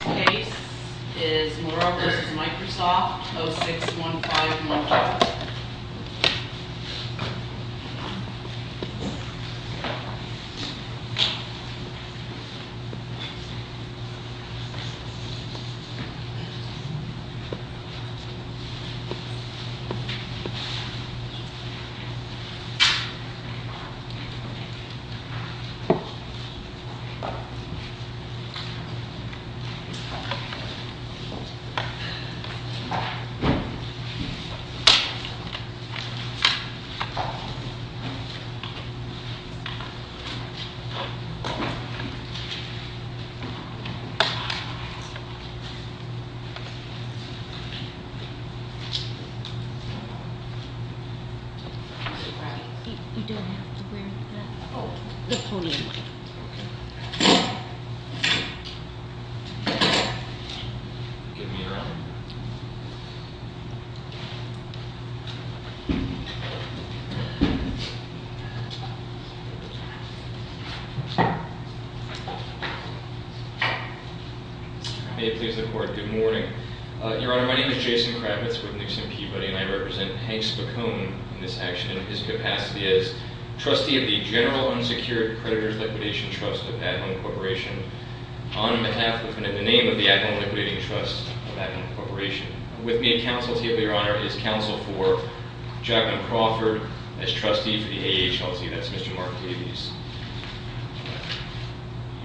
Case is Moore v. Microsoft, 06151J. Case is Moore v. Microsoft, 06151J. Give me your arm. May it please the court, good morning. Your Honor, my name is Jason Kravitz with Nixon Peabody, and I represent Hank Spicone in this action in his capacity as trustee of the General Unsecured Creditors Liquidation Trust of At-Home Corporation, on behalf of and in the name of the At-Home Liquidating Trust of At-Home Corporation. With me in counsel table, Your Honor, is counsel for Jacqueline Crawford as trustee for the AHLC. That's Mr. Mark Davies.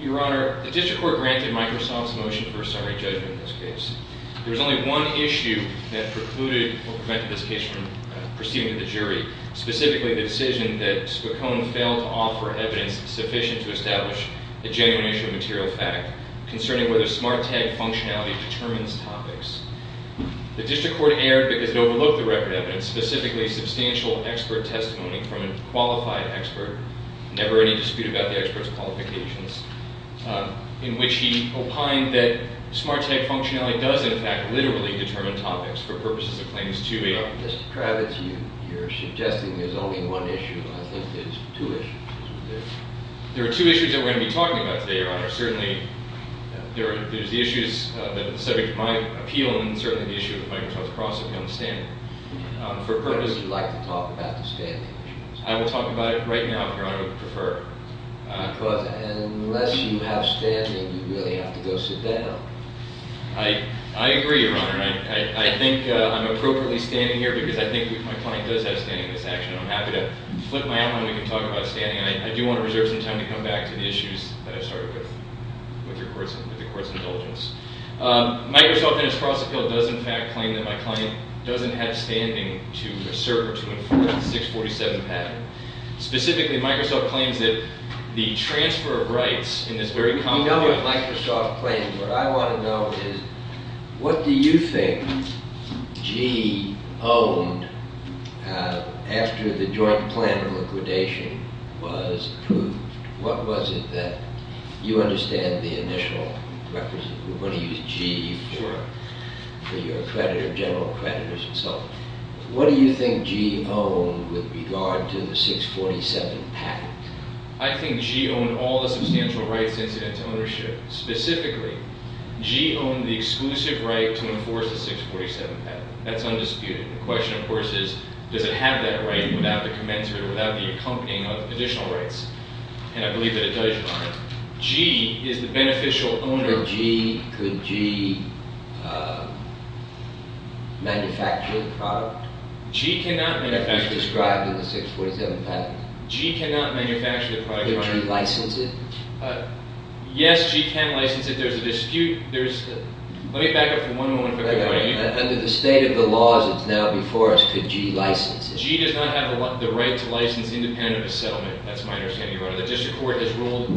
Your Honor, the district court granted Microsoft's motion for a summary judgment in this case. There was only one issue that precluded or prevented this case from proceeding to the jury, specifically the decision that Spicone failed to offer evidence sufficient to establish a genuine issue of material fact concerning whether smart tag functionality determines topics. The district court erred because it overlooked the record evidence, specifically substantial expert testimony from a qualified expert, never any dispute about the expert's qualifications, in which he opined that smart tag functionality does, in fact, literally determine topics for purposes of claims 2A. Mr. Kravitz, you're suggesting there's only one issue. I think there's two issues. There are two issues that we're going to be talking about today, Your Honor. Certainly, there's the issues that are the subject of my appeal, and then certainly the issue of Microsoft's process of understanding. What would you like to talk about the standing issues? I will talk about it right now, if Your Honor would prefer. Because unless you have standing, you really have to go sit down. I agree, Your Honor. I think I'm appropriately standing here because I think my client does have standing in this action, and I'm happy to flip my outline when we can talk about standing. I do want to reserve some time to come back to the issues that I started with with the court's indulgence. Microsoft, in its process appeal, does, in fact, claim that my client doesn't have standing to serve or to enforce the 647 pattern. Specifically, Microsoft claims that the transfer of rights in this very complicated— What do you think G owned after the joint plan of liquidation was approved? What was it that—you understand the initial—we're going to use G for your general creditors and so on. What do you think G owned with regard to the 647 pattern? I think G owned all the substantial rights incident to ownership. Specifically, G owned the exclusive right to enforce the 647 pattern. That's undisputed. The question, of course, is does it have that right without the commensurate or without the accompanying of additional rights? And I believe that it does, Your Honor. G is the beneficial owner— Could G manufacture the product that was described in the 647 pattern? G cannot manufacture the product, Your Honor. Could G license it? Yes, G can license it. There's a dispute. Let me back up for one moment. Under the state of the laws that's now before us, could G license it? G does not have the right to license independent of a settlement. That's my understanding, Your Honor. The district court has ruled on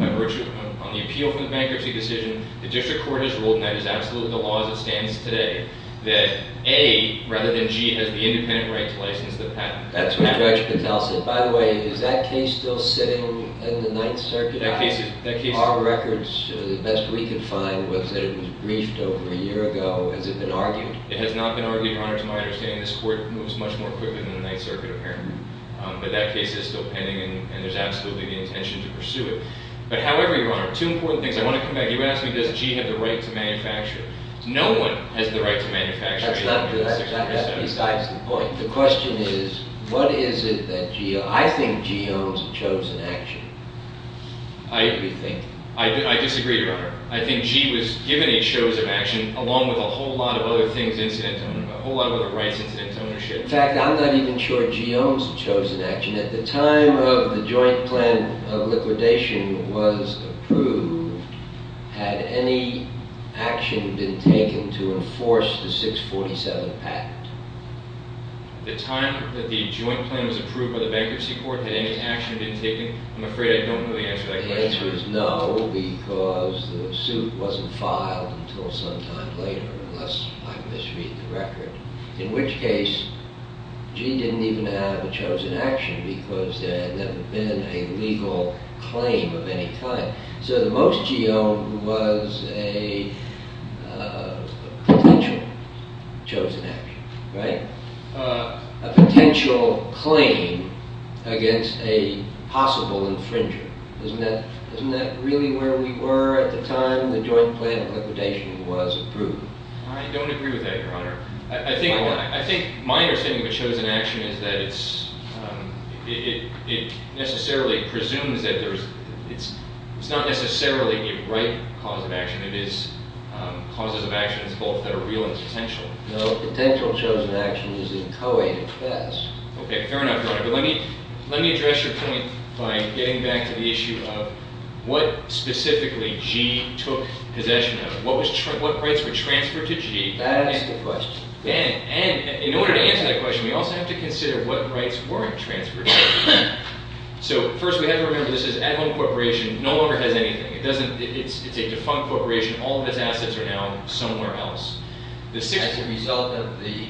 the appeal for the bankruptcy decision. The district court has ruled, and that is absolutely the law as it stands today, that A, rather than G, has the independent right to license the pattern. That's what Judge Patel said. By the way, is that case still sitting in the Ninth Circuit? Our records, the best we could find, was that it was briefed over a year ago. Has it been argued? It has not been argued, Your Honor, to my understanding. This court moves much more quickly than the Ninth Circuit, apparently. But that case is still pending, and there's absolutely the intention to pursue it. But however, Your Honor, two important things. I want to come back. You asked me, does G have the right to manufacture it? No one has the right to manufacture it. That's besides the point. The question is, what is it that G— I disagree, Your Honor. I think G was given a chosen action, along with a whole lot of other things incidentally, a whole lot of other rights incidentally. In fact, I'm not even sure G owns the chosen action. At the time of the joint plan of liquidation was approved, had any action been taken to enforce the 647 patent? At the time that the joint plan was approved by the bankruptcy court, had any action been taken? I'm afraid I don't know the answer to that question. The answer is no, because the suit wasn't filed until some time later, unless I misread the record, in which case G didn't even have a chosen action because there had never been a legal claim of any kind. So the most G owned was a potential chosen action, right? A potential claim against a possible infringer. Isn't that really where we were at the time the joint plan of liquidation was approved? I don't agree with that, Your Honor. I think my understanding of a chosen action is that it necessarily presumes that there's— it's not necessarily the right cause of action. It is causes of actions both that are real and potential. No, a potential chosen action is a co-aided class. Okay, fair enough, Your Honor. But let me address your point by getting back to the issue of what specifically G took possession of. What rights were transferred to G? That is the question. And in order to answer that question, we also have to consider what rights weren't transferred to G. So first we have to remember this is at-home corporation, no longer has anything. It's a defunct corporation. All of its assets are now somewhere else. As a result of the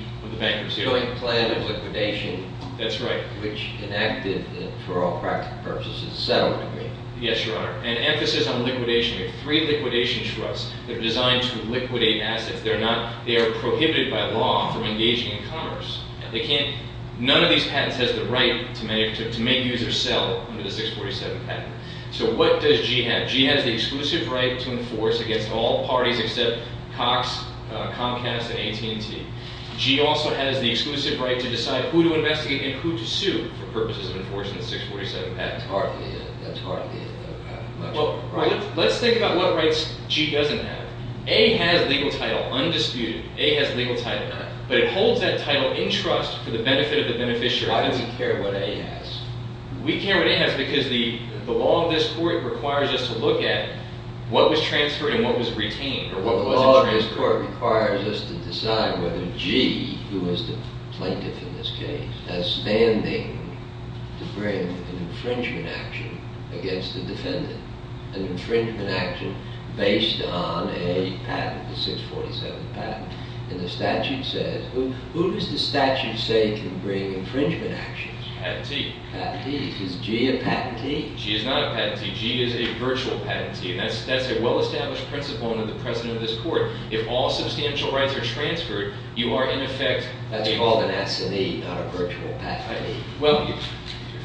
joint plan of liquidation— That's right. —which enacted for all practical purposes a settlement agreement. Yes, Your Honor. An emphasis on liquidation. We have three liquidation trusts that are designed to liquidate assets. They are prohibited by law from engaging in commerce. None of these patents has the right to make users sell under the 647 patent. So what does G have? G has the exclusive right to enforce against all parties except Cox, Comcast, and AT&T. G also has the exclusive right to decide who to investigate and who to sue for purposes of enforcing the 647 patent. That's hardly a patent. Let's think about what rights G doesn't have. A has legal title, undisputed. A has legal title. But it holds that title in trust for the benefit of the beneficiary. Why do we care what A has? We care what A has because the law of this court requires us to look at what was transferred and what was retained or what wasn't transferred. Well, the law of this court requires us to decide whether G, who is the plaintiff in this case, has standing to bring an infringement action against the defendant, an infringement action based on a patent, the 647 patent. And the statute says— Who does the statute say can bring infringement actions? Patentee. Patentee. Is G a patentee? G is not a patentee. G is a virtual patentee. And that's a well-established principle under the precedent of this court. If all substantial rights are transferred, you are in effect— That's called an assignee, not a virtual patentee. Well,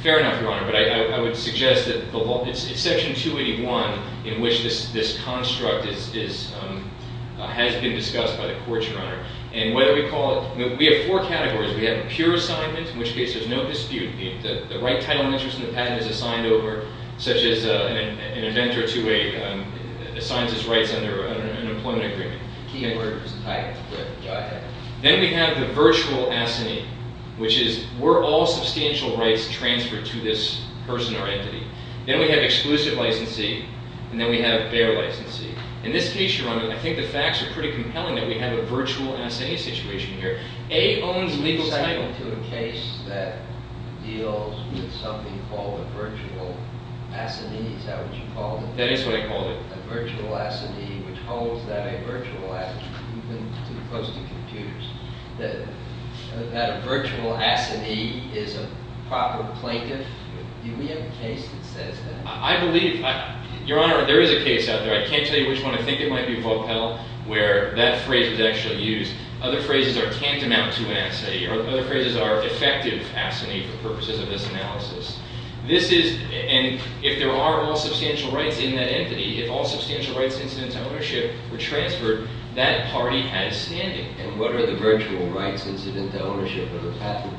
fair enough, Your Honor. But I would suggest that it's Section 281 in which this construct has been discussed by the court, Your Honor. And whether we call it—we have four categories. We have a pure assignment, in which case there's no dispute. The right title and interest in the patent is assigned over, such as an inventor to a—assigns his rights under an employment agreement. Key inverters. Right. Then we have the virtual assignee, which is we're all substantial rights transferred to this person or entity. Then we have exclusive licensee, and then we have bare licensee. In this case, Your Honor, I think the facts are pretty compelling that we have a virtual assignee situation here. A owns legal title. You're referring to a case that deals with something called a virtual assignee. Is that what you called it? That is what I called it. A virtual assignee, which holds that a virtual assignee, even close to computers, that a virtual assignee is a proper plaintiff. Do we have a case that says that? I believe—Your Honor, there is a case out there. I can't tell you which one. I think it might be Vopel, where that phrase was actually used. Other phrases are can't amount to an assignee. Other phrases are defective assignee for purposes of this analysis. This is—and if there are all substantial rights in that entity, if all substantial rights incident to ownership were transferred, that party has standing. And what are the virtual rights incident to ownership of a patent?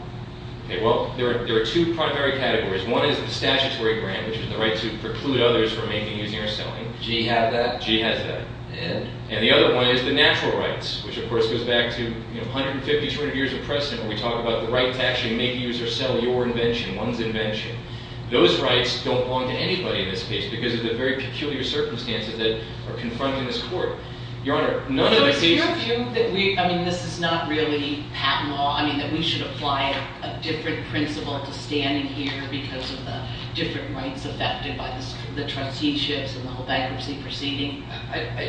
Okay. Well, there are two primary categories. One is the statutory grant, which is the right to preclude others from making, using, or selling. G has that? G has that. And? And the other one is the natural rights, which, of course, goes back to 150, 200 years of precedent, where we talk about the right to actually make, use, or sell your invention, one's invention. Those rights don't belong to anybody in this case because of the very peculiar circumstances that are confronting this court. Your Honor, none of the cases— So it's your view that we—I mean, this is not really patent law. I mean, that we should apply a different principle to standing here because of the different rights affected by the transitions and the whole bankruptcy proceeding?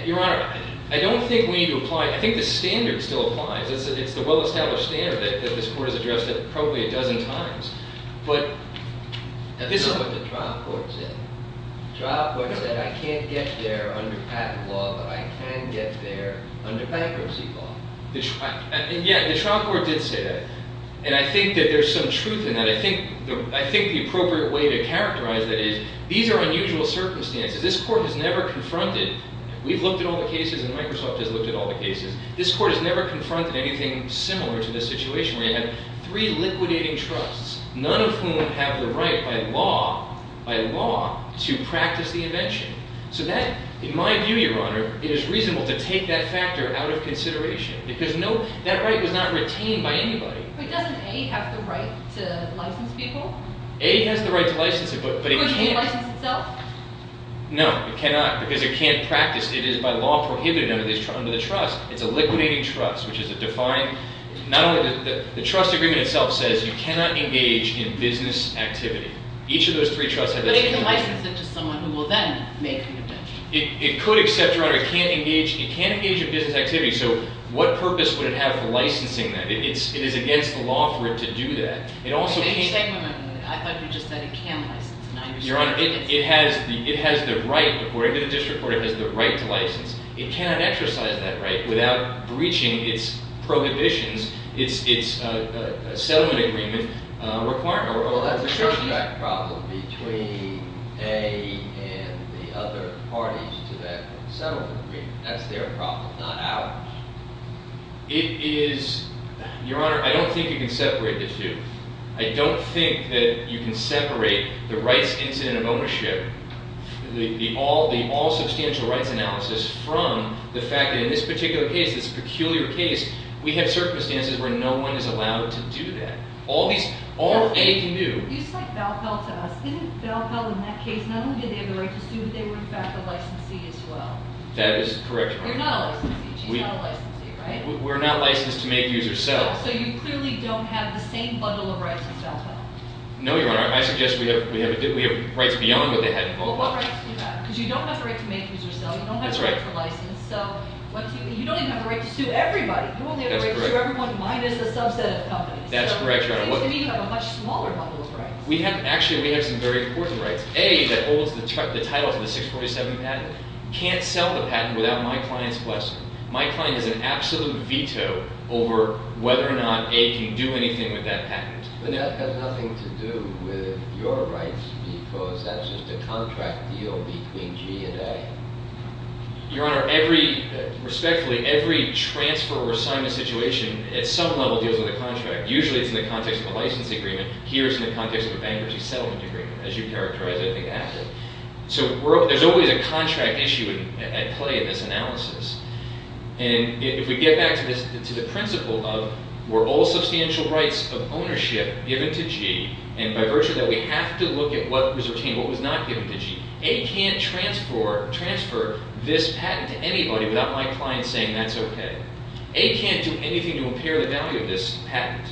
Your Honor, I don't think we need to apply—I think the standard still applies. It's the well-established standard that this court has addressed probably a dozen times. But— That's not what the trial court said. The trial court said, I can't get there under patent law, but I can get there under bankruptcy law. Yeah, the trial court did say that. And I think that there's some truth in that. I think the appropriate way to characterize that is, these are unusual circumstances. This court has never confronted—we've looked at all the cases, and Microsoft has looked at all the cases. This court has never confronted anything similar to this situation where you have three liquidating trusts, none of whom have the right by law to practice the invention. So that, in my view, Your Honor, it is reasonable to take that factor out of consideration because that right was not retained by anybody. But doesn't A have the right to license people? A has the right to license it, but it can't— No, it cannot, because it can't practice. It is, by law, prohibited under the trust. It's a liquidating trust, which is a defined— not only—the trust agreement itself says you cannot engage in business activity. Each of those three trusts— But it can license it to someone who will then make the invention. It could, except, Your Honor, it can't engage in business activity. So what purpose would it have for licensing that? It is against the law for it to do that. It also can't— But you said momentarily. I thought you just said it can license. Your Honor, it has the right, according to the district court, it has the right to license. It cannot exercise that right without breaching its prohibitions, its settlement agreement requirement. Well, that's a contract problem between A and the other parties to that settlement agreement. That's their problem, not ours. It is—Your Honor, I don't think you can separate the two. I don't think that you can separate the rights incident of ownership, the all-substantial rights analysis, from the fact that in this particular case, this peculiar case, we have circumstances where no one is allowed to do that. All A can do— You said Balfell to us. Didn't Balfell, in that case, not only did they have the right to sue, but they were, in fact, a licensee as well? That is correct, Your Honor. You're not a licensee. She's not a licensee, right? We're not licensed to make, use, or sell. So you clearly don't have the same bundle of rights as Balfell. No, Your Honor. I suggest we have rights beyond what they had in Balfell. Well, what rights do you have? Because you don't have the right to make, use, or sell. You don't have the right to license. You don't even have the right to sue everybody. You only have the right to sue everyone minus a subset of companies. That's correct, Your Honor. So it seems to me you have a much smaller bundle of rights. Actually, we have some very important rights. A, that holds the title to the 647 patent, can't sell the patent without my client's blessing. My client has an absolute veto over whether or not A can do anything with that patent. But that has nothing to do with your rights, because that's just a contract deal between G and A. Your Honor, respectfully, every transfer or assignment situation at some level deals with a contract. Usually, it's in the context of a license agreement. Here, it's in the context of a bankruptcy settlement agreement, as you characterized, I think, active. So there's always a contract issue at play in this analysis. And if we get back to the principle of, were all substantial rights of ownership given to G, and by virtue of that, we have to look at what was retained, what was not given to G. A can't transfer this patent to anybody without my client saying that's okay. A can't do anything to impair the value of this patent.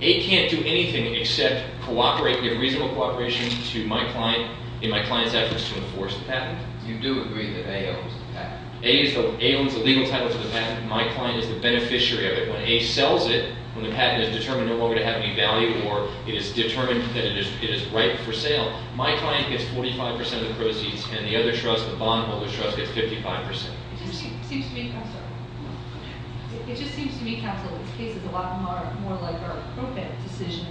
A can't do anything except give reasonable cooperation to my client in my client's efforts to enforce the patent. You do agree that A owns the patent? A owns the legal title to the patent. My client is the beneficiary of it. When A sells it, when the patent is determined no longer to have any value or it is determined that it is right for sale, my client gets 45 percent of the proceeds, and the other trust, the bondholders' trust, gets 55 percent. It just seems to me, Counsel, it just seems to me, Counsel, this case is a lot more like our probate decision.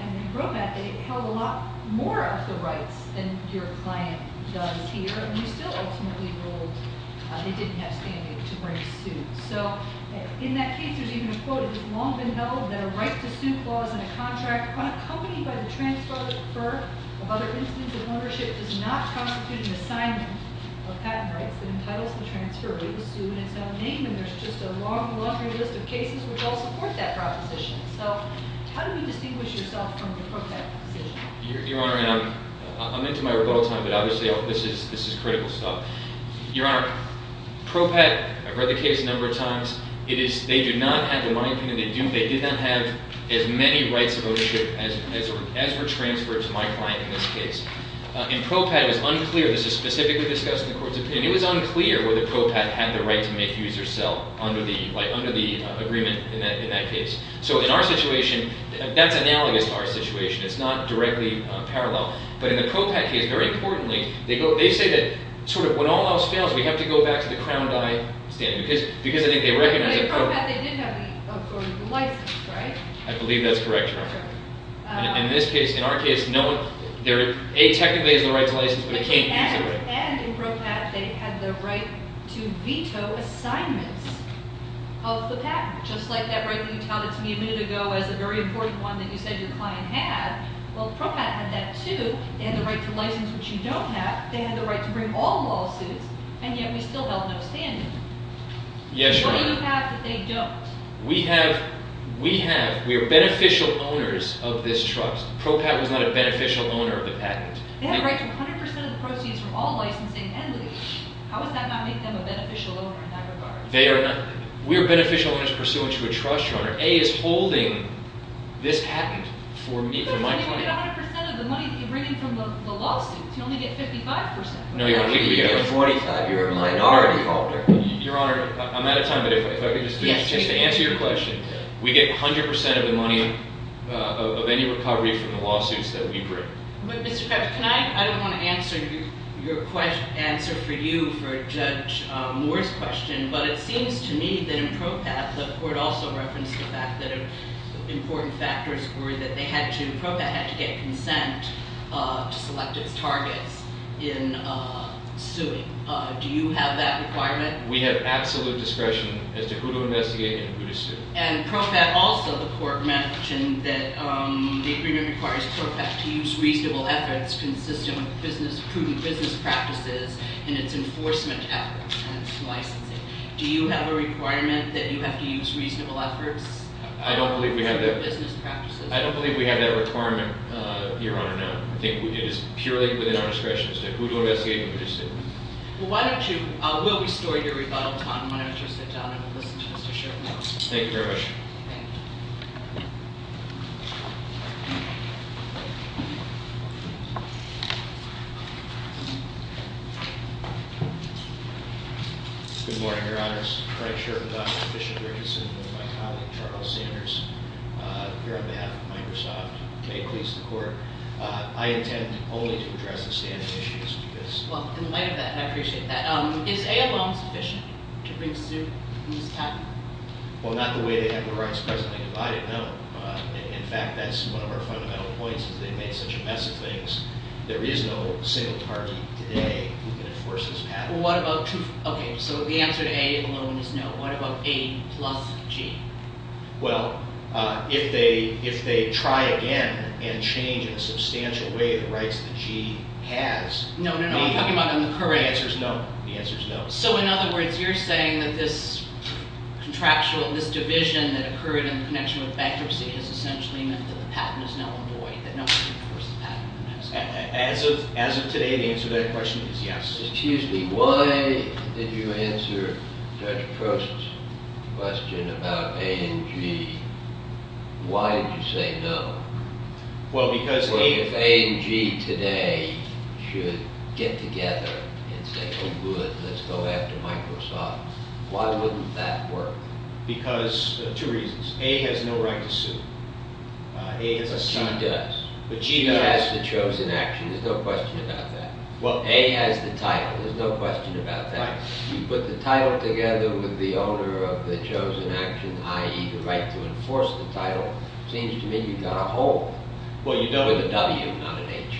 And in probate, they held a lot more of the rights than your client does here. And you still ultimately ruled they didn't have standing to bring suit. So in that case, there's even a quote, it has long been held that a right to sue clause in a contract on a company by the transfer of other instances of ownership does not constitute an assignment of patent rights that entitles the transfer to sue in its own name. And there's just a long, laundry list of cases which all support that proposition. So how do you distinguish yourself from the probate decision? Your Honor, I'm into my rebuttal time, but obviously this is critical stuff. Your Honor, probate, I've read the case a number of times, they do not have, in my opinion, they do not have as many rights of ownership as for transfer to my client in this case. In probate, it was unclear, this is specifically discussed in the Court's opinion, it was unclear whether probate had the right to make use or sell under the agreement in that case. So in our situation, that's analogous to our situation, it's not directly parallel. But in the probate case, very importantly, they say that when all else fails, we have to go back to the crown die stand, because I think they recognize that probate... But in probate, they did have the authority to license, right? I believe that's correct, Your Honor. In this case, in our case, no one, A, technically has the right to license, but they can't use it, right? And in probate, they had the right to veto assignments of the patent, just like that right that you touted to me a minute ago as a very important one that you said your client had. Well, probate had that too. They had the right to license, which you don't have. They had the right to bring all lawsuits, and yet we still held no standing. Yes, Your Honor. What do you have that they don't? We have, we are beneficial owners of this trust. Probate was not a beneficial owner of the patent. They have the right to 100% of the proceeds from all licensing and lease. How does that not make them a beneficial owner in that regard? They are not. We are beneficial owners pursuant to a trust, Your Honor. A is holding this patent for me, for my client. But you only get 100% of the money that you're bringing from the lawsuits. You only get 55%. No, Your Honor. You get 45. You're a minority holder. Your Honor, I'm out of time, but if I could just answer your question. We get 100% of the money of any recovery from the lawsuits that we bring. But, Mr. Cuff, can I, I don't want to answer your question, answer for you for Judge Moore's question, but it seems to me that in PROPAT, the court also referenced the fact that important factors were that they had to, PROPAT had to get consent to select its targets in suing. Do you have that requirement? We have absolute discretion as to who to investigate and who to sue. And PROPAT also, the court mentioned that the agreement requires PROPAT to use reasonable efforts consistent with business, business practices in its enforcement efforts and its licensing. Do you have a requirement that you have to use reasonable efforts? I don't believe we have that. For business practices. I don't believe we have that requirement, Your Honor, no. I think it is purely within our discretion as to who to investigate and who to sue. Well, why don't you, we'll restore your rebuttal time whenever you're sit down and we'll listen to Mr. Sherman. Thank you very much. Thank you. Good morning, Your Honors. Frank Sherman, Dr. Bishop Richardson with my colleague, Charles Sanders, here on behalf of Microsoft. May it please the court. I intend only to address the standing issues with this. Well, in light of that, and I appreciate that. Is AFM sufficient to bring suit in this case? Well, not the way they have the rights presently divided, no. In fact, that's one of our fundamental points is they've made such a mess of things. There is no single target today who can enforce this patent. Well, what about, okay, so the answer to A alone is no. What about A plus G? Well, if they try again and change in a substantial way the rights that G has. No, no, no, I'm talking about on the current. The answer is no. The answer is no. So, in other words, you're saying that this contractual, this division that occurred in connection with bankruptcy has essentially meant that the patent is now a void, that no one can enforce the patent. As of today, the answer to that question is yes. Excuse me, why did you answer Judge Post's question about A and G? Why did you say no? Well, because A and G today should get together and say, oh, good, let's go after Microsoft. Why wouldn't that work? Because of two reasons. A has no right to sue. But G does. G has the chosen action. There's no question about that. A has the title. There's no question about that. You put the title together with the owner of the chosen action, i.e., the right to enforce the title, it seems to me you've got a hole. Well, you don't. With a W, not an H.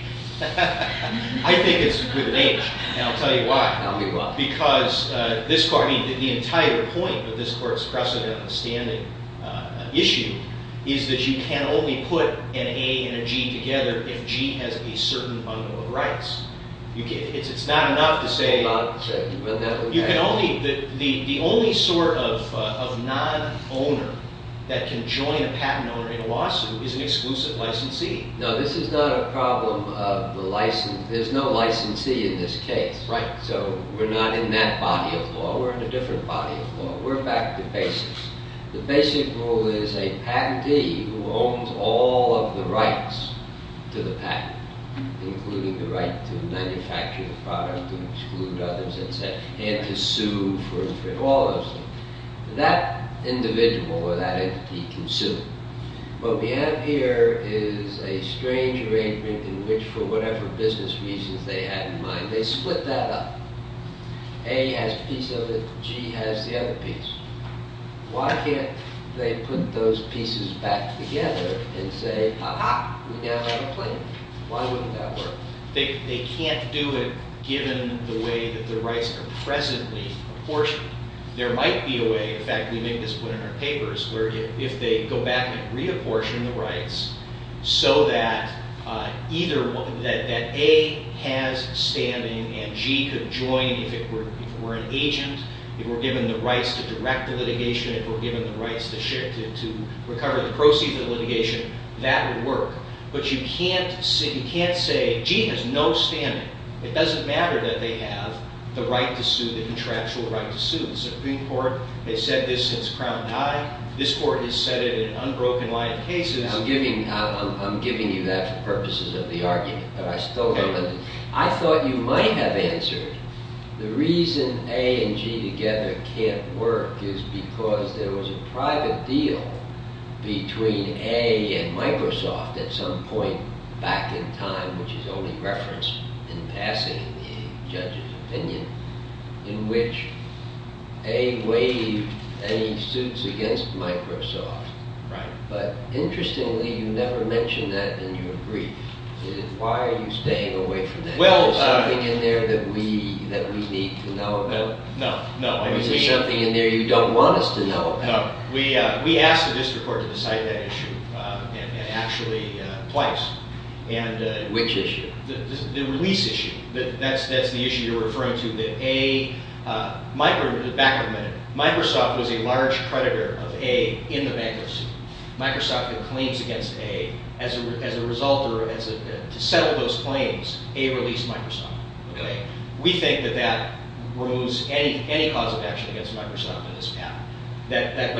I think it's with an H, and I'll tell you why. Tell me why. Because the entire point of this Court's precedent on the standing issue is that you can only put an A and a G together if G has a certain bundle of rights. It's not enough to say... The only sort of non-owner that can join a patent owner in a lawsuit is an exclusive licensee. No, this is not a problem of the license. There's no licensee in this case. Right, so we're not in that body of law. We're in a different body of law. We're back to basics. The basic rule is a patentee who owns all of the rights to the patent, including the right to manufacture the product and exclude others, and to sue for all those things, that individual or that entity can sue. What we have here is a strange arrangement in which, for whatever business reasons they had in mind, they split that up. A has a piece of it, G has the other piece. Why can't they put those pieces back together and say, aha, we now have a claim? Why wouldn't that work? They can't do it given the way that the rights are presently apportioned. There might be a way, in fact, we make this clear in our papers, where if they go back and reapportion the rights so that A has standing and G could join if it were an agent, if we're given the rights to direct the litigation, if we're given the rights to recover the proceeds of litigation, that would work. But you can't say, G has no standing. It doesn't matter that they have the right to sue, the contractual right to sue. The Supreme Court has said this since Crown died. This Court has said it in an unbroken line of cases. I'm giving you that for purposes of the argument, but I still don't understand. I thought you might have answered, the reason A and G together can't work is because there was a private deal between A and Microsoft at some point back in time, which is only referenced in passing in the judge's opinion, in which A waived any suits against Microsoft. But interestingly, you never mention that in your brief. Why are you staying away from that? Is there something in there that we need to know about? No. Is there something in there you don't want us to know about? No. We asked the district court to decide that issue actually twice. Which issue? The release issue. That's the issue you're referring to. Back a minute. Microsoft was a large predator of A in the bankruptcy. Microsoft had claims against A. As a result, or to settle those claims, A released Microsoft. We think that that removes any cause of action against Microsoft in this pattern. But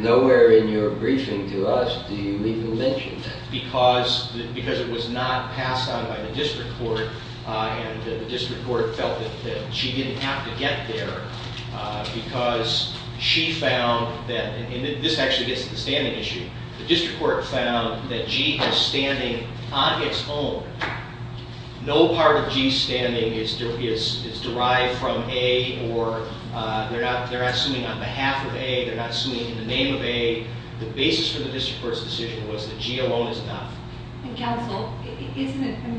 nowhere in your briefing to us do you even mention that. Because it was not passed on by the district court, and the district court felt that she didn't have to get there because she found that, and this actually gets to the standing issue, the district court found that G is standing on its own. No part of G's standing is derived from A, or they're not suing on behalf of A, they're not suing in the name of A. The basis for the district court's decision was that G alone is enough. Counsel, I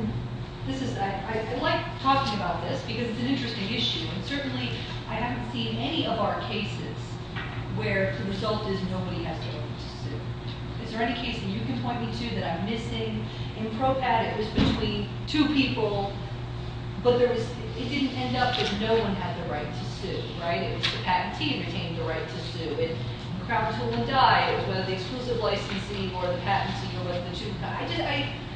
like talking about this because it's an interesting issue, and certainly I haven't seen any of our cases where the result is nobody has the right to sue. Is there any case that you can point me to that I'm missing? In PROPAT it was between two people, but it didn't end up that no one had the right to sue. It was the patentee who retained the right to sue. In PROPAT it was whether the exclusive licensee or the patentee were the two.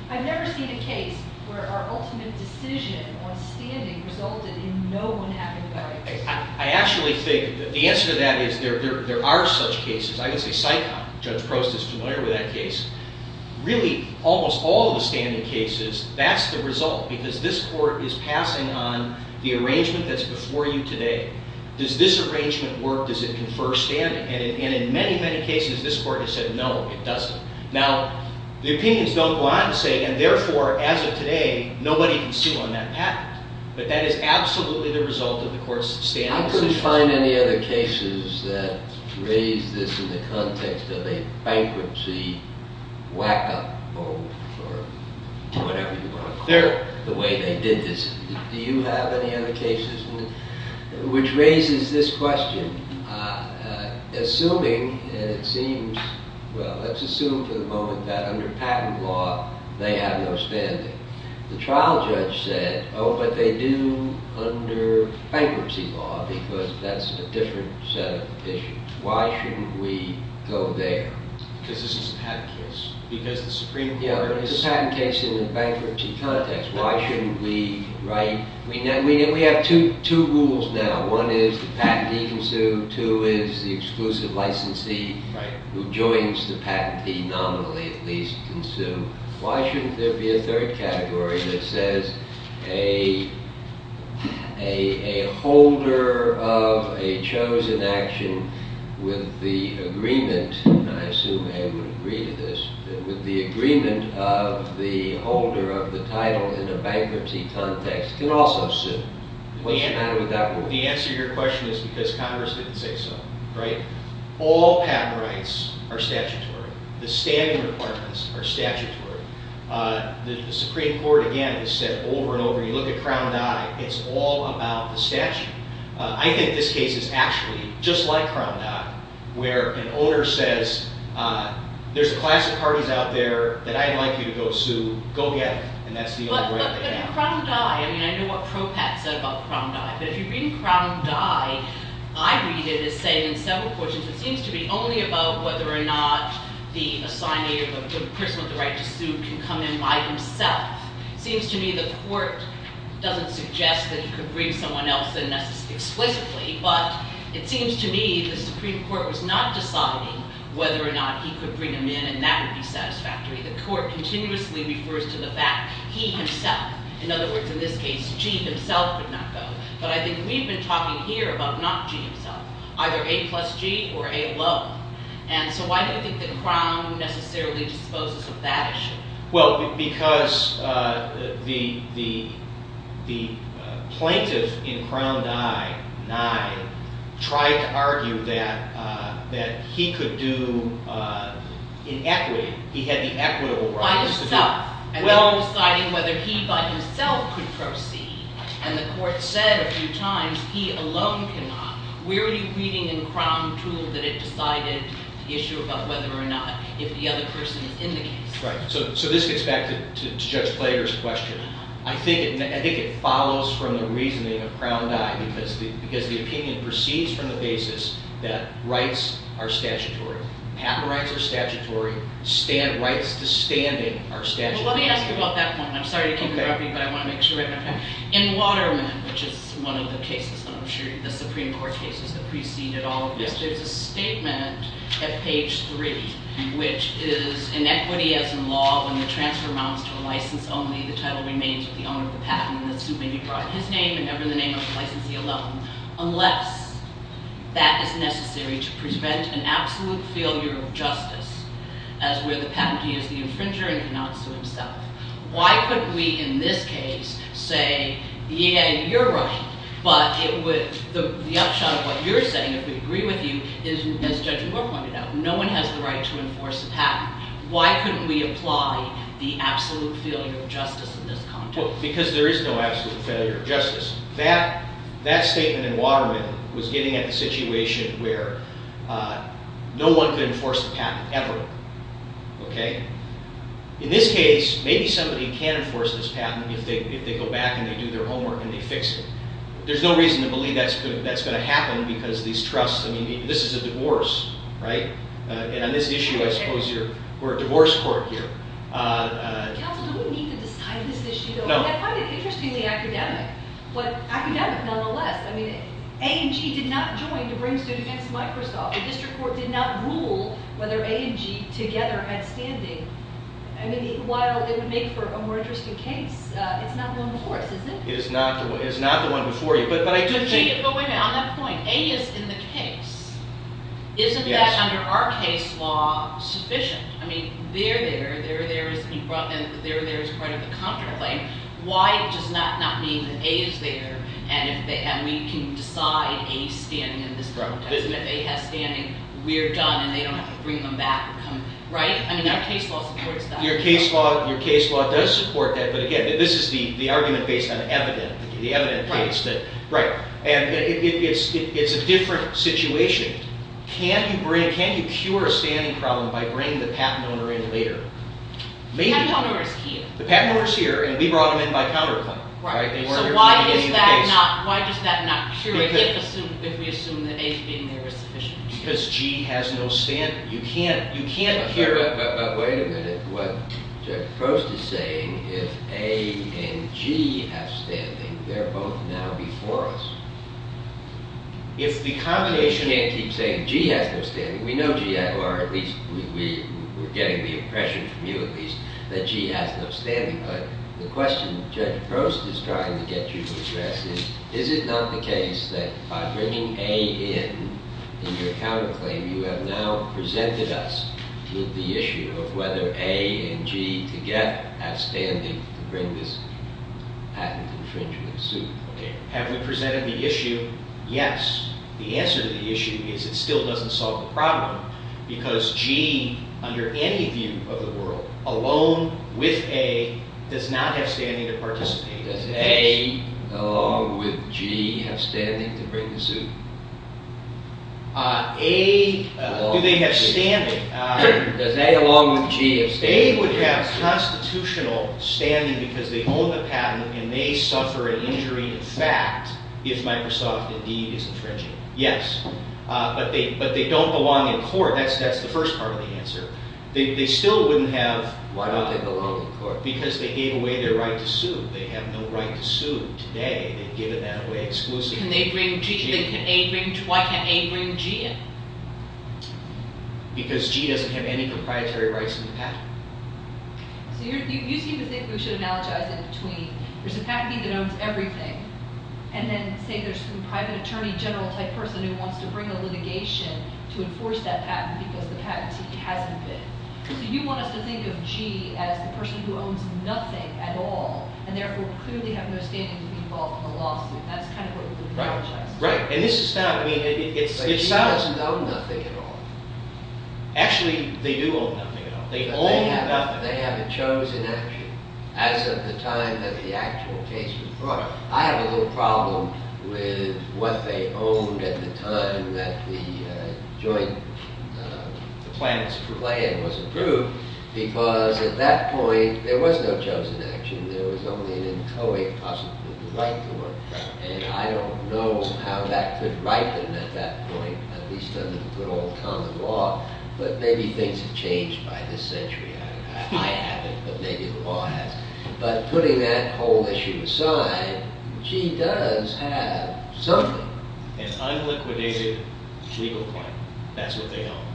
I've never seen a case where our ultimate decision on standing resulted in no one having the right to sue. I actually think that the answer to that is there are such cases. I can say SICOM, Judge Prost is familiar with that case. Really, almost all the standing cases, that's the result, because this court is passing on the arrangement that's before you today. Does this arrangement work? Does it confer standing? And in many, many cases this court has said no, it doesn't. Now, the opinions don't go on to say, and therefore, as of today, nobody can sue on that patent. But that is absolutely the result of the court's standing decisions. I couldn't find any other cases that raise this in the context of a bankruptcy whack-up, or whatever you want to call it, the way they did this. Do you have any other cases which raises this question? Assuming, and it seems, well, let's assume for the moment that under patent law they have no standing. The trial judge said, oh, but they do under bankruptcy law, because that's a different set of issues. Why shouldn't we go there? Because this is a patent case. Yeah, it's a patent case in a bankruptcy context. Why shouldn't we write, we have two rules now. One is the patentee can sue. Two is the exclusive licensee who joins the patentee, nominally at least, can sue. Why shouldn't there be a third category that says a holder of a chosen action with the agreement, and I assume Ed would agree to this, that with the agreement of the holder of the title in a bankruptcy context can also sue? Why would that work? The answer to your question is because Congress didn't say so, right? All patent rights are statutory. The standing requirements are statutory. The Supreme Court, again, has said over and over, you look at Crown Dye, it's all about the statute. I think this case is actually just like Crown Dye, where an owner says, there's a class of parties out there that I'd like you to go sue. Go get them, and that's the only way to get out. But in Crown Dye, I mean, I know what Propat said about Crown Dye, but if you read Crown Dye, I read it as saying in several portions, it seems to be only about whether or not the person with the right to sue can come in by himself. It seems to me the court doesn't suggest that he could bring someone else in explicitly, but it seems to me the Supreme Court was not deciding whether or not he could bring him in, and that would be satisfactory. The court continuously refers to the fact he himself, in other words, in this case, G himself could not go. But I think we've been talking here about not G himself, either A plus G or A alone. And so why do you think that Crown necessarily disposes of that issue? Well, because the plaintiff in Crown Dye, Nye, tried to argue that he could do inequity. He had the equitable right. By himself. And then deciding whether he by himself could proceed. And the court said a few times, he alone cannot. Where are you reading in Crown Tool that it decided the issue about whether or not, if the other person is in the case? So this gets back to Judge Plater's question. I think it follows from the reasoning of Crown Dye, because the opinion proceeds from the basis that rights are statutory. Paper rights are statutory. Rights to standing are statutory. Well, let me ask you about that one. I'm sorry to interrupt you, but I want to make sure I understand. In Waterman, which is one of the cases, I'm sure, the Supreme Court cases that preceded all of this, there's a statement at page three, which is, inequity as in law, when the transfer amounts to a license only, the title remains with the owner of the patent, and the suit may be brought in his name and never the name of the licensee alone, unless that is necessary to prevent an absolute failure of justice, as where the patentee is the infringer and cannot sue himself. Why couldn't we, in this case, say, yeah, you're right, but the upshot of what you're saying, if we agree with you, is, as Judge Moore pointed out, no one has the right to enforce the patent. Why couldn't we apply the absolute failure of justice in this context? Because there is no absolute failure of justice. That statement in Waterman was getting at the situation where no one could enforce the patent, ever. In this case, maybe somebody can enforce this patent if they go back and they do their homework and they fix it. There's no reason to believe that's going to happen because these trusts, I mean, this is a divorce, right? And on this issue, I suppose we're a divorce court here. Counsel, do we need to decide this issue? No. I find it interestingly academic, but academic nonetheless. I mean, A&G did not join to bring suit against Microsoft. The district court did not rule whether A&G together had standing. I mean, while it would make for a more interesting case, it's not the one before us, is it? It is not the one before you. But wait a minute, on that point, A is in the case. Isn't that, under our case law, sufficient? I mean, they're there, they're there as part of the contemplate. Why does that not mean that A is there and we can decide A's standing in this context? And if A has standing, we're done and they don't have to bring them back, right? I mean, our case law supports that. Your case law does support that, but again, this is the argument based on evidence. The evidence states that, right. And it's a different situation. Can you cure a standing problem by bringing the patent owner in later? The patent owner is here. The patent owner is here and we brought him in by counterclaim. So why is that not true if we assume that A's being there is sufficient? Because G has no standing. But wait a minute. What Judge Prost is saying is if A and G have standing, they're both now before us. We can't keep saying G has no standing. We know G, or at least we're getting the impression from you at least, that G has no standing. But the question Judge Prost is trying to get you to address is, is it not the case that by bringing A in, in your counterclaim, you have now presented us with the issue of whether A and G together have standing to bring this patent infringement suit? Have we presented the issue? Yes. The answer to the issue is it still doesn't solve the problem because G, under any view of the world, alone with A, does not have standing to participate. Does A, along with G, have standing to bring the suit? Do they have standing? Does A, along with G, have standing? A would have constitutional standing because they own the patent and they suffer an injury in fact if Microsoft indeed is infringing it. Yes. But they don't belong in court. That's the first part of the answer. They still wouldn't have... Why don't they belong in court? Because they gave away their right to sue. They have no right to sue today. They've given that away exclusively. Can they bring G in? Why can't A bring G in? Because G doesn't have any proprietary rights to the patent. So you seem to think we should analogize in between. There's a patentee that owns everything and then say there's some private attorney general type person who wants to bring a litigation to enforce that patent because the patentee hasn't been. So you want us to think of G as the person who owns nothing at all and therefore clearly have no standing to be involved in the lawsuit. That's kind of what you're trying to say. Right. And this is not... But G doesn't own nothing at all. Actually, they do own nothing at all. They own nothing. They have a chosen action as of the time that the actual case was brought. I have a little problem with what they owned at the time that the joint plan was approved because at that point there was no chosen action. There was only an inchoate possibility of the right to work. And I don't know how that could ripen at that point at least under the good old common law. But maybe things have changed by this century. I haven't, but maybe the law has. But putting that whole issue aside, G does have something. An unliquidated legal claim. That's what they own.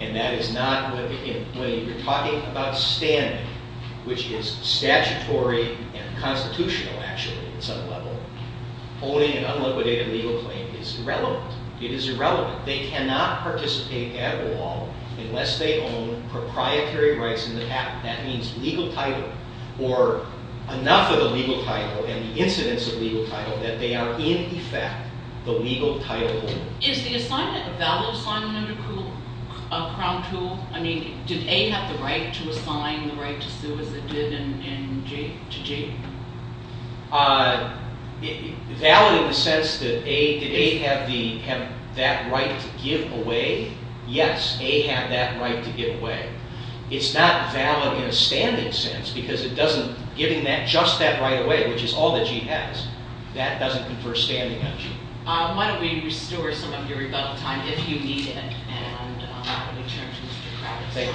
And that is not... When you're talking about standing, which is statutory and constitutional actually at some level, owning an unliquidated legal claim is irrelevant. It is irrelevant. They cannot participate at all unless they own proprietary rights in the patent. That means legal title or enough of the legal title and the incidence of legal title that they are in effect the legal title owner. Is the assignment a valid assignment under Crown Rule? Did A have the right to assign the right to sue as it did to G? Valid in the sense that did A have that right to give away? Yes, A had that right to give away. It's not valid in a standing sense because it doesn't... Giving just that right away, which is all that G has, that doesn't confer standing on G. Why don't we restore some of your rebuttal time, if you need it, and I will return to Mr. Kravitz. Thank you.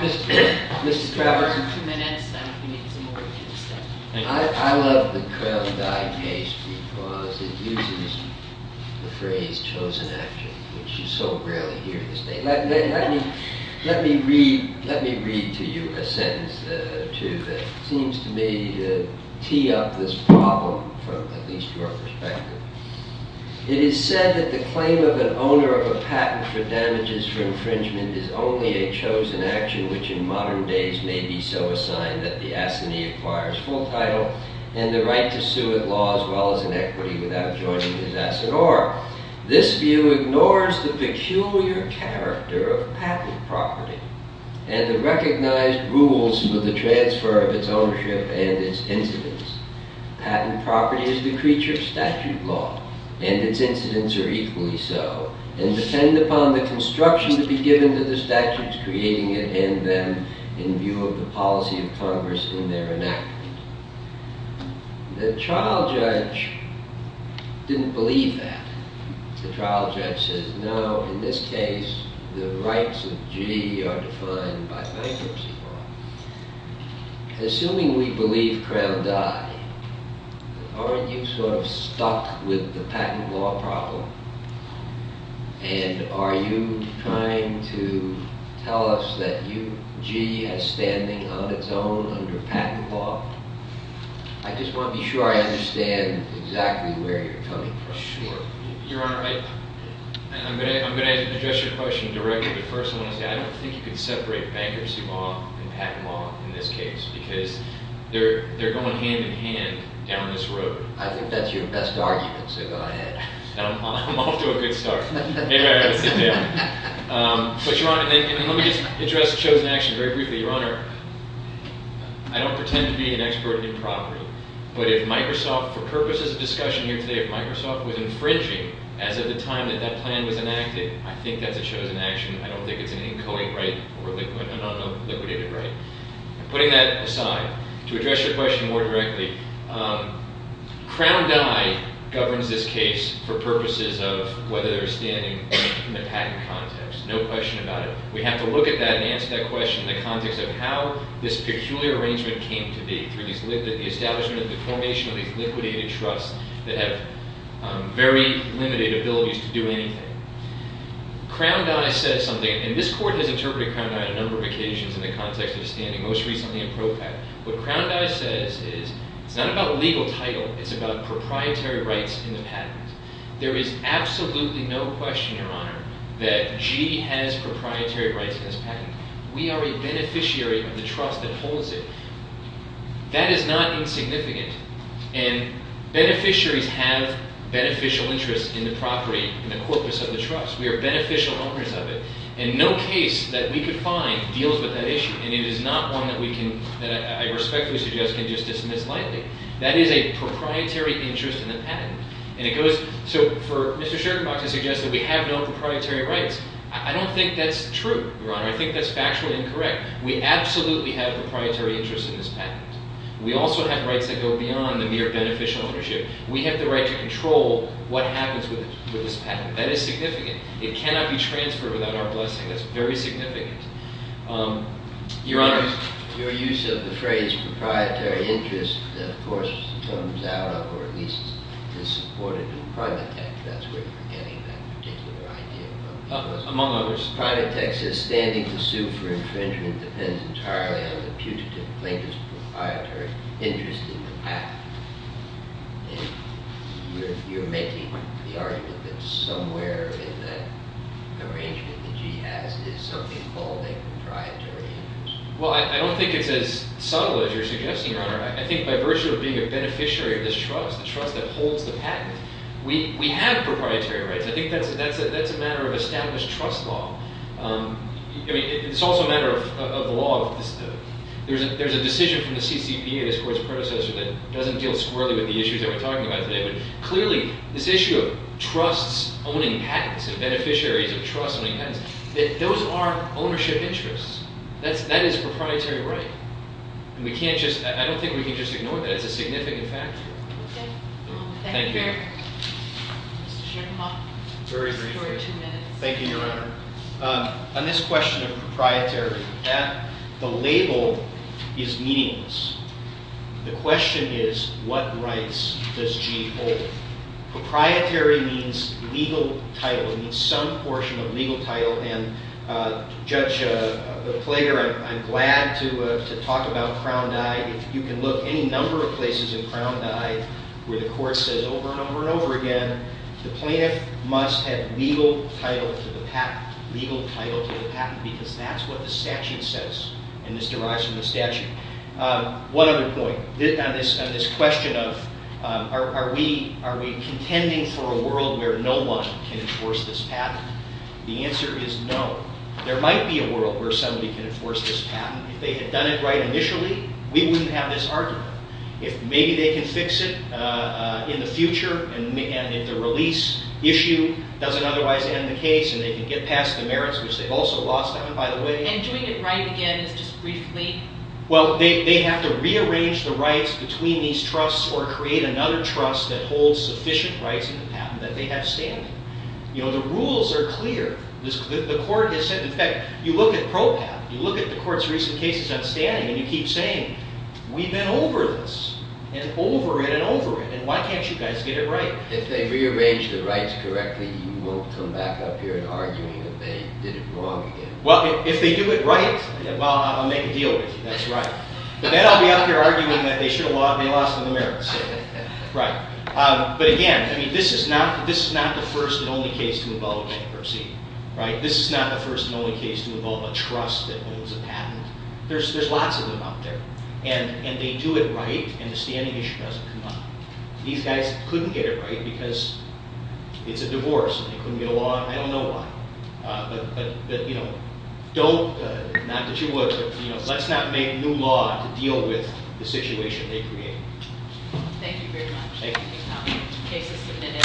Mr. Kravitz. Mr. Kravitz. If you have two minutes, then you can make some more of your statement. I love the curl-dye case because it uses the phrase chosen after, which you so rarely hear these days. Let me read to you a sentence that seems to me to tee up this problem, at least from our perspective. It is said that the claim of an owner of a patent for damages for infringement is only a chosen action, which in modern days may be so assigned that the assignee acquires full title and the right to sue at law, as well as in equity, without joining his asset. This view ignores the peculiar character of patent property and the recognized rules for the transfer of its ownership and its incidence. Patent property is the creature of statute law, and its incidents are equally so, and depend upon the construction to be given to the statutes creating it and them in view of the policy of Congress in their enactment. The trial judge didn't believe that. The trial judge says, no, in this case the rights of G are defined by bankruptcy law. Assuming we believe curl-dye, aren't you sort of stuck with the patent law problem? And are you trying to tell us that G is standing on its own under patent law? I just want to be sure I understand exactly where you're coming from. Sure. Your Honor, I'm going to address your question directly, but first I want to say I don't think you can separate bankruptcy law and patent law in this case because they're going hand-in-hand down this road. I think that's your best argument, so go ahead. I'm off to a good start. Maybe I ought to sit down. But, Your Honor, let me just address chosen action very briefly. Your Honor, I don't pretend to be an expert in property, but if Microsoft, for purposes of discussion here today, if Microsoft was infringing as of the time that that plan was enacted, I think that's a chosen action. I don't think it's an inchoate right or a liquidated right. Putting that aside, to address your question more directly, curl-dye governs this case for purposes of whether they're standing in the patent context. No question about it. We have to look at that and answer that question in the context of how this peculiar arrangement came to be through the establishment and the formation of these liquidated trusts that have very limited abilities to do anything. Crown-dye says something, and this Court has interpreted crown-dye on a number of occasions in the context of standing most recently in pro-pat. What crown-dye says is it's not about legal title, it's about proprietary rights in the patent. There is absolutely no question, Your Honor, that Gee has proprietary rights in this patent. We are a beneficiary of the trust that holds it. That is not insignificant. And beneficiaries have beneficial interests in the property, in the corpus of the trust. We are beneficial owners of it. And no case that we could find deals with that issue. And it is not one that we can, that I respectfully suggest, can just dismiss lightly. That is a proprietary interest in the patent. And it goes, so for Mr. Scherkenbach to suggest that we have no proprietary rights, I don't think that's true, Your Honor. I think that's factually incorrect. We absolutely have a proprietary interest in this patent. We also have rights that go beyond the mere beneficial ownership. We have the right to control what happens with this patent. That is significant. It cannot be transferred without our blessing. That's very significant. Your Honor. Your use of the phrase proprietary interest, of course, comes out of, or at least is supported in private tech. That's where you're getting that particular idea from. Among others. Private tech says standing to sue for infringement depends entirely on the putative plaintiff's proprietary interest in the patent. You're making the argument that somewhere in the arrangement that he has is something called a proprietary interest. Well, I don't think it's as subtle as you're suggesting, Your Honor. I think by virtue of being a beneficiary of this trust, the trust that holds the patent, we have proprietary rights. I think that's a matter of established trust law. I mean, it's also a matter of the law. There's a decision from the CCPA, this Court's predecessor, that doesn't deal squirrelly with the issues that we're talking about today. But clearly, this issue of trusts owning patents and beneficiaries of trusts owning patents, those are ownership interests. And we can't just, I don't think we can just ignore that. It's a significant factor. Okay. Thank you, Your Honor. Thank you, Your Honor. Mr. Sherman. Very briefly. For two minutes. Thank you, Your Honor. On this question of proprietary, that, the label is meaningless. The question is, what rights does G hold? Proprietary means legal title. It means some portion of legal title. And, Judge Plater, I'm glad to talk about Crown Dive. If you can look any number of places in Crown Dive where the Court says over and over and over again, the plaintiff must have legal title to the patent. Legal title to the patent because that's what the statute says. And this derives from the statute. One other point. On this question of, are we contending for a world where no one can enforce this patent? The answer is no. There might be a world where somebody can enforce this patent. If they had done it right initially, we wouldn't have this argument. If maybe they can fix it in the future and in the release issue, it doesn't otherwise end the case and they can get past the merits, which they also lost by the way. And doing it right again is just briefly... Well, they have to rearrange the rights between these trusts or create another trust that holds sufficient rights in the patent that they have standing. You know, the rules are clear. The Court has said, in fact, you look at PROPAT, you look at the Court's recent cases on standing and you keep saying, we've been over this and over it and over it and why can't you guys get it right? If they rearrange the rights correctly, you won't come back up here and argue that they did it wrong again. Well, if they do it right, well, I'll make a deal with you. That's right. But then I'll be up here arguing that they lost the merits. Right. But again, this is not the first and only case to involve bankruptcy. Right? This is not the first and only case to involve a trust that owns a patent. There's lots of them out there. And they do it right and the standing issue doesn't come up. These guys couldn't get it right because it's a divorce and they couldn't get a law and I don't know why. But, you know, don't, not that you would, but let's not make new law to deal with the situation they create. Thank you very much. Thank you.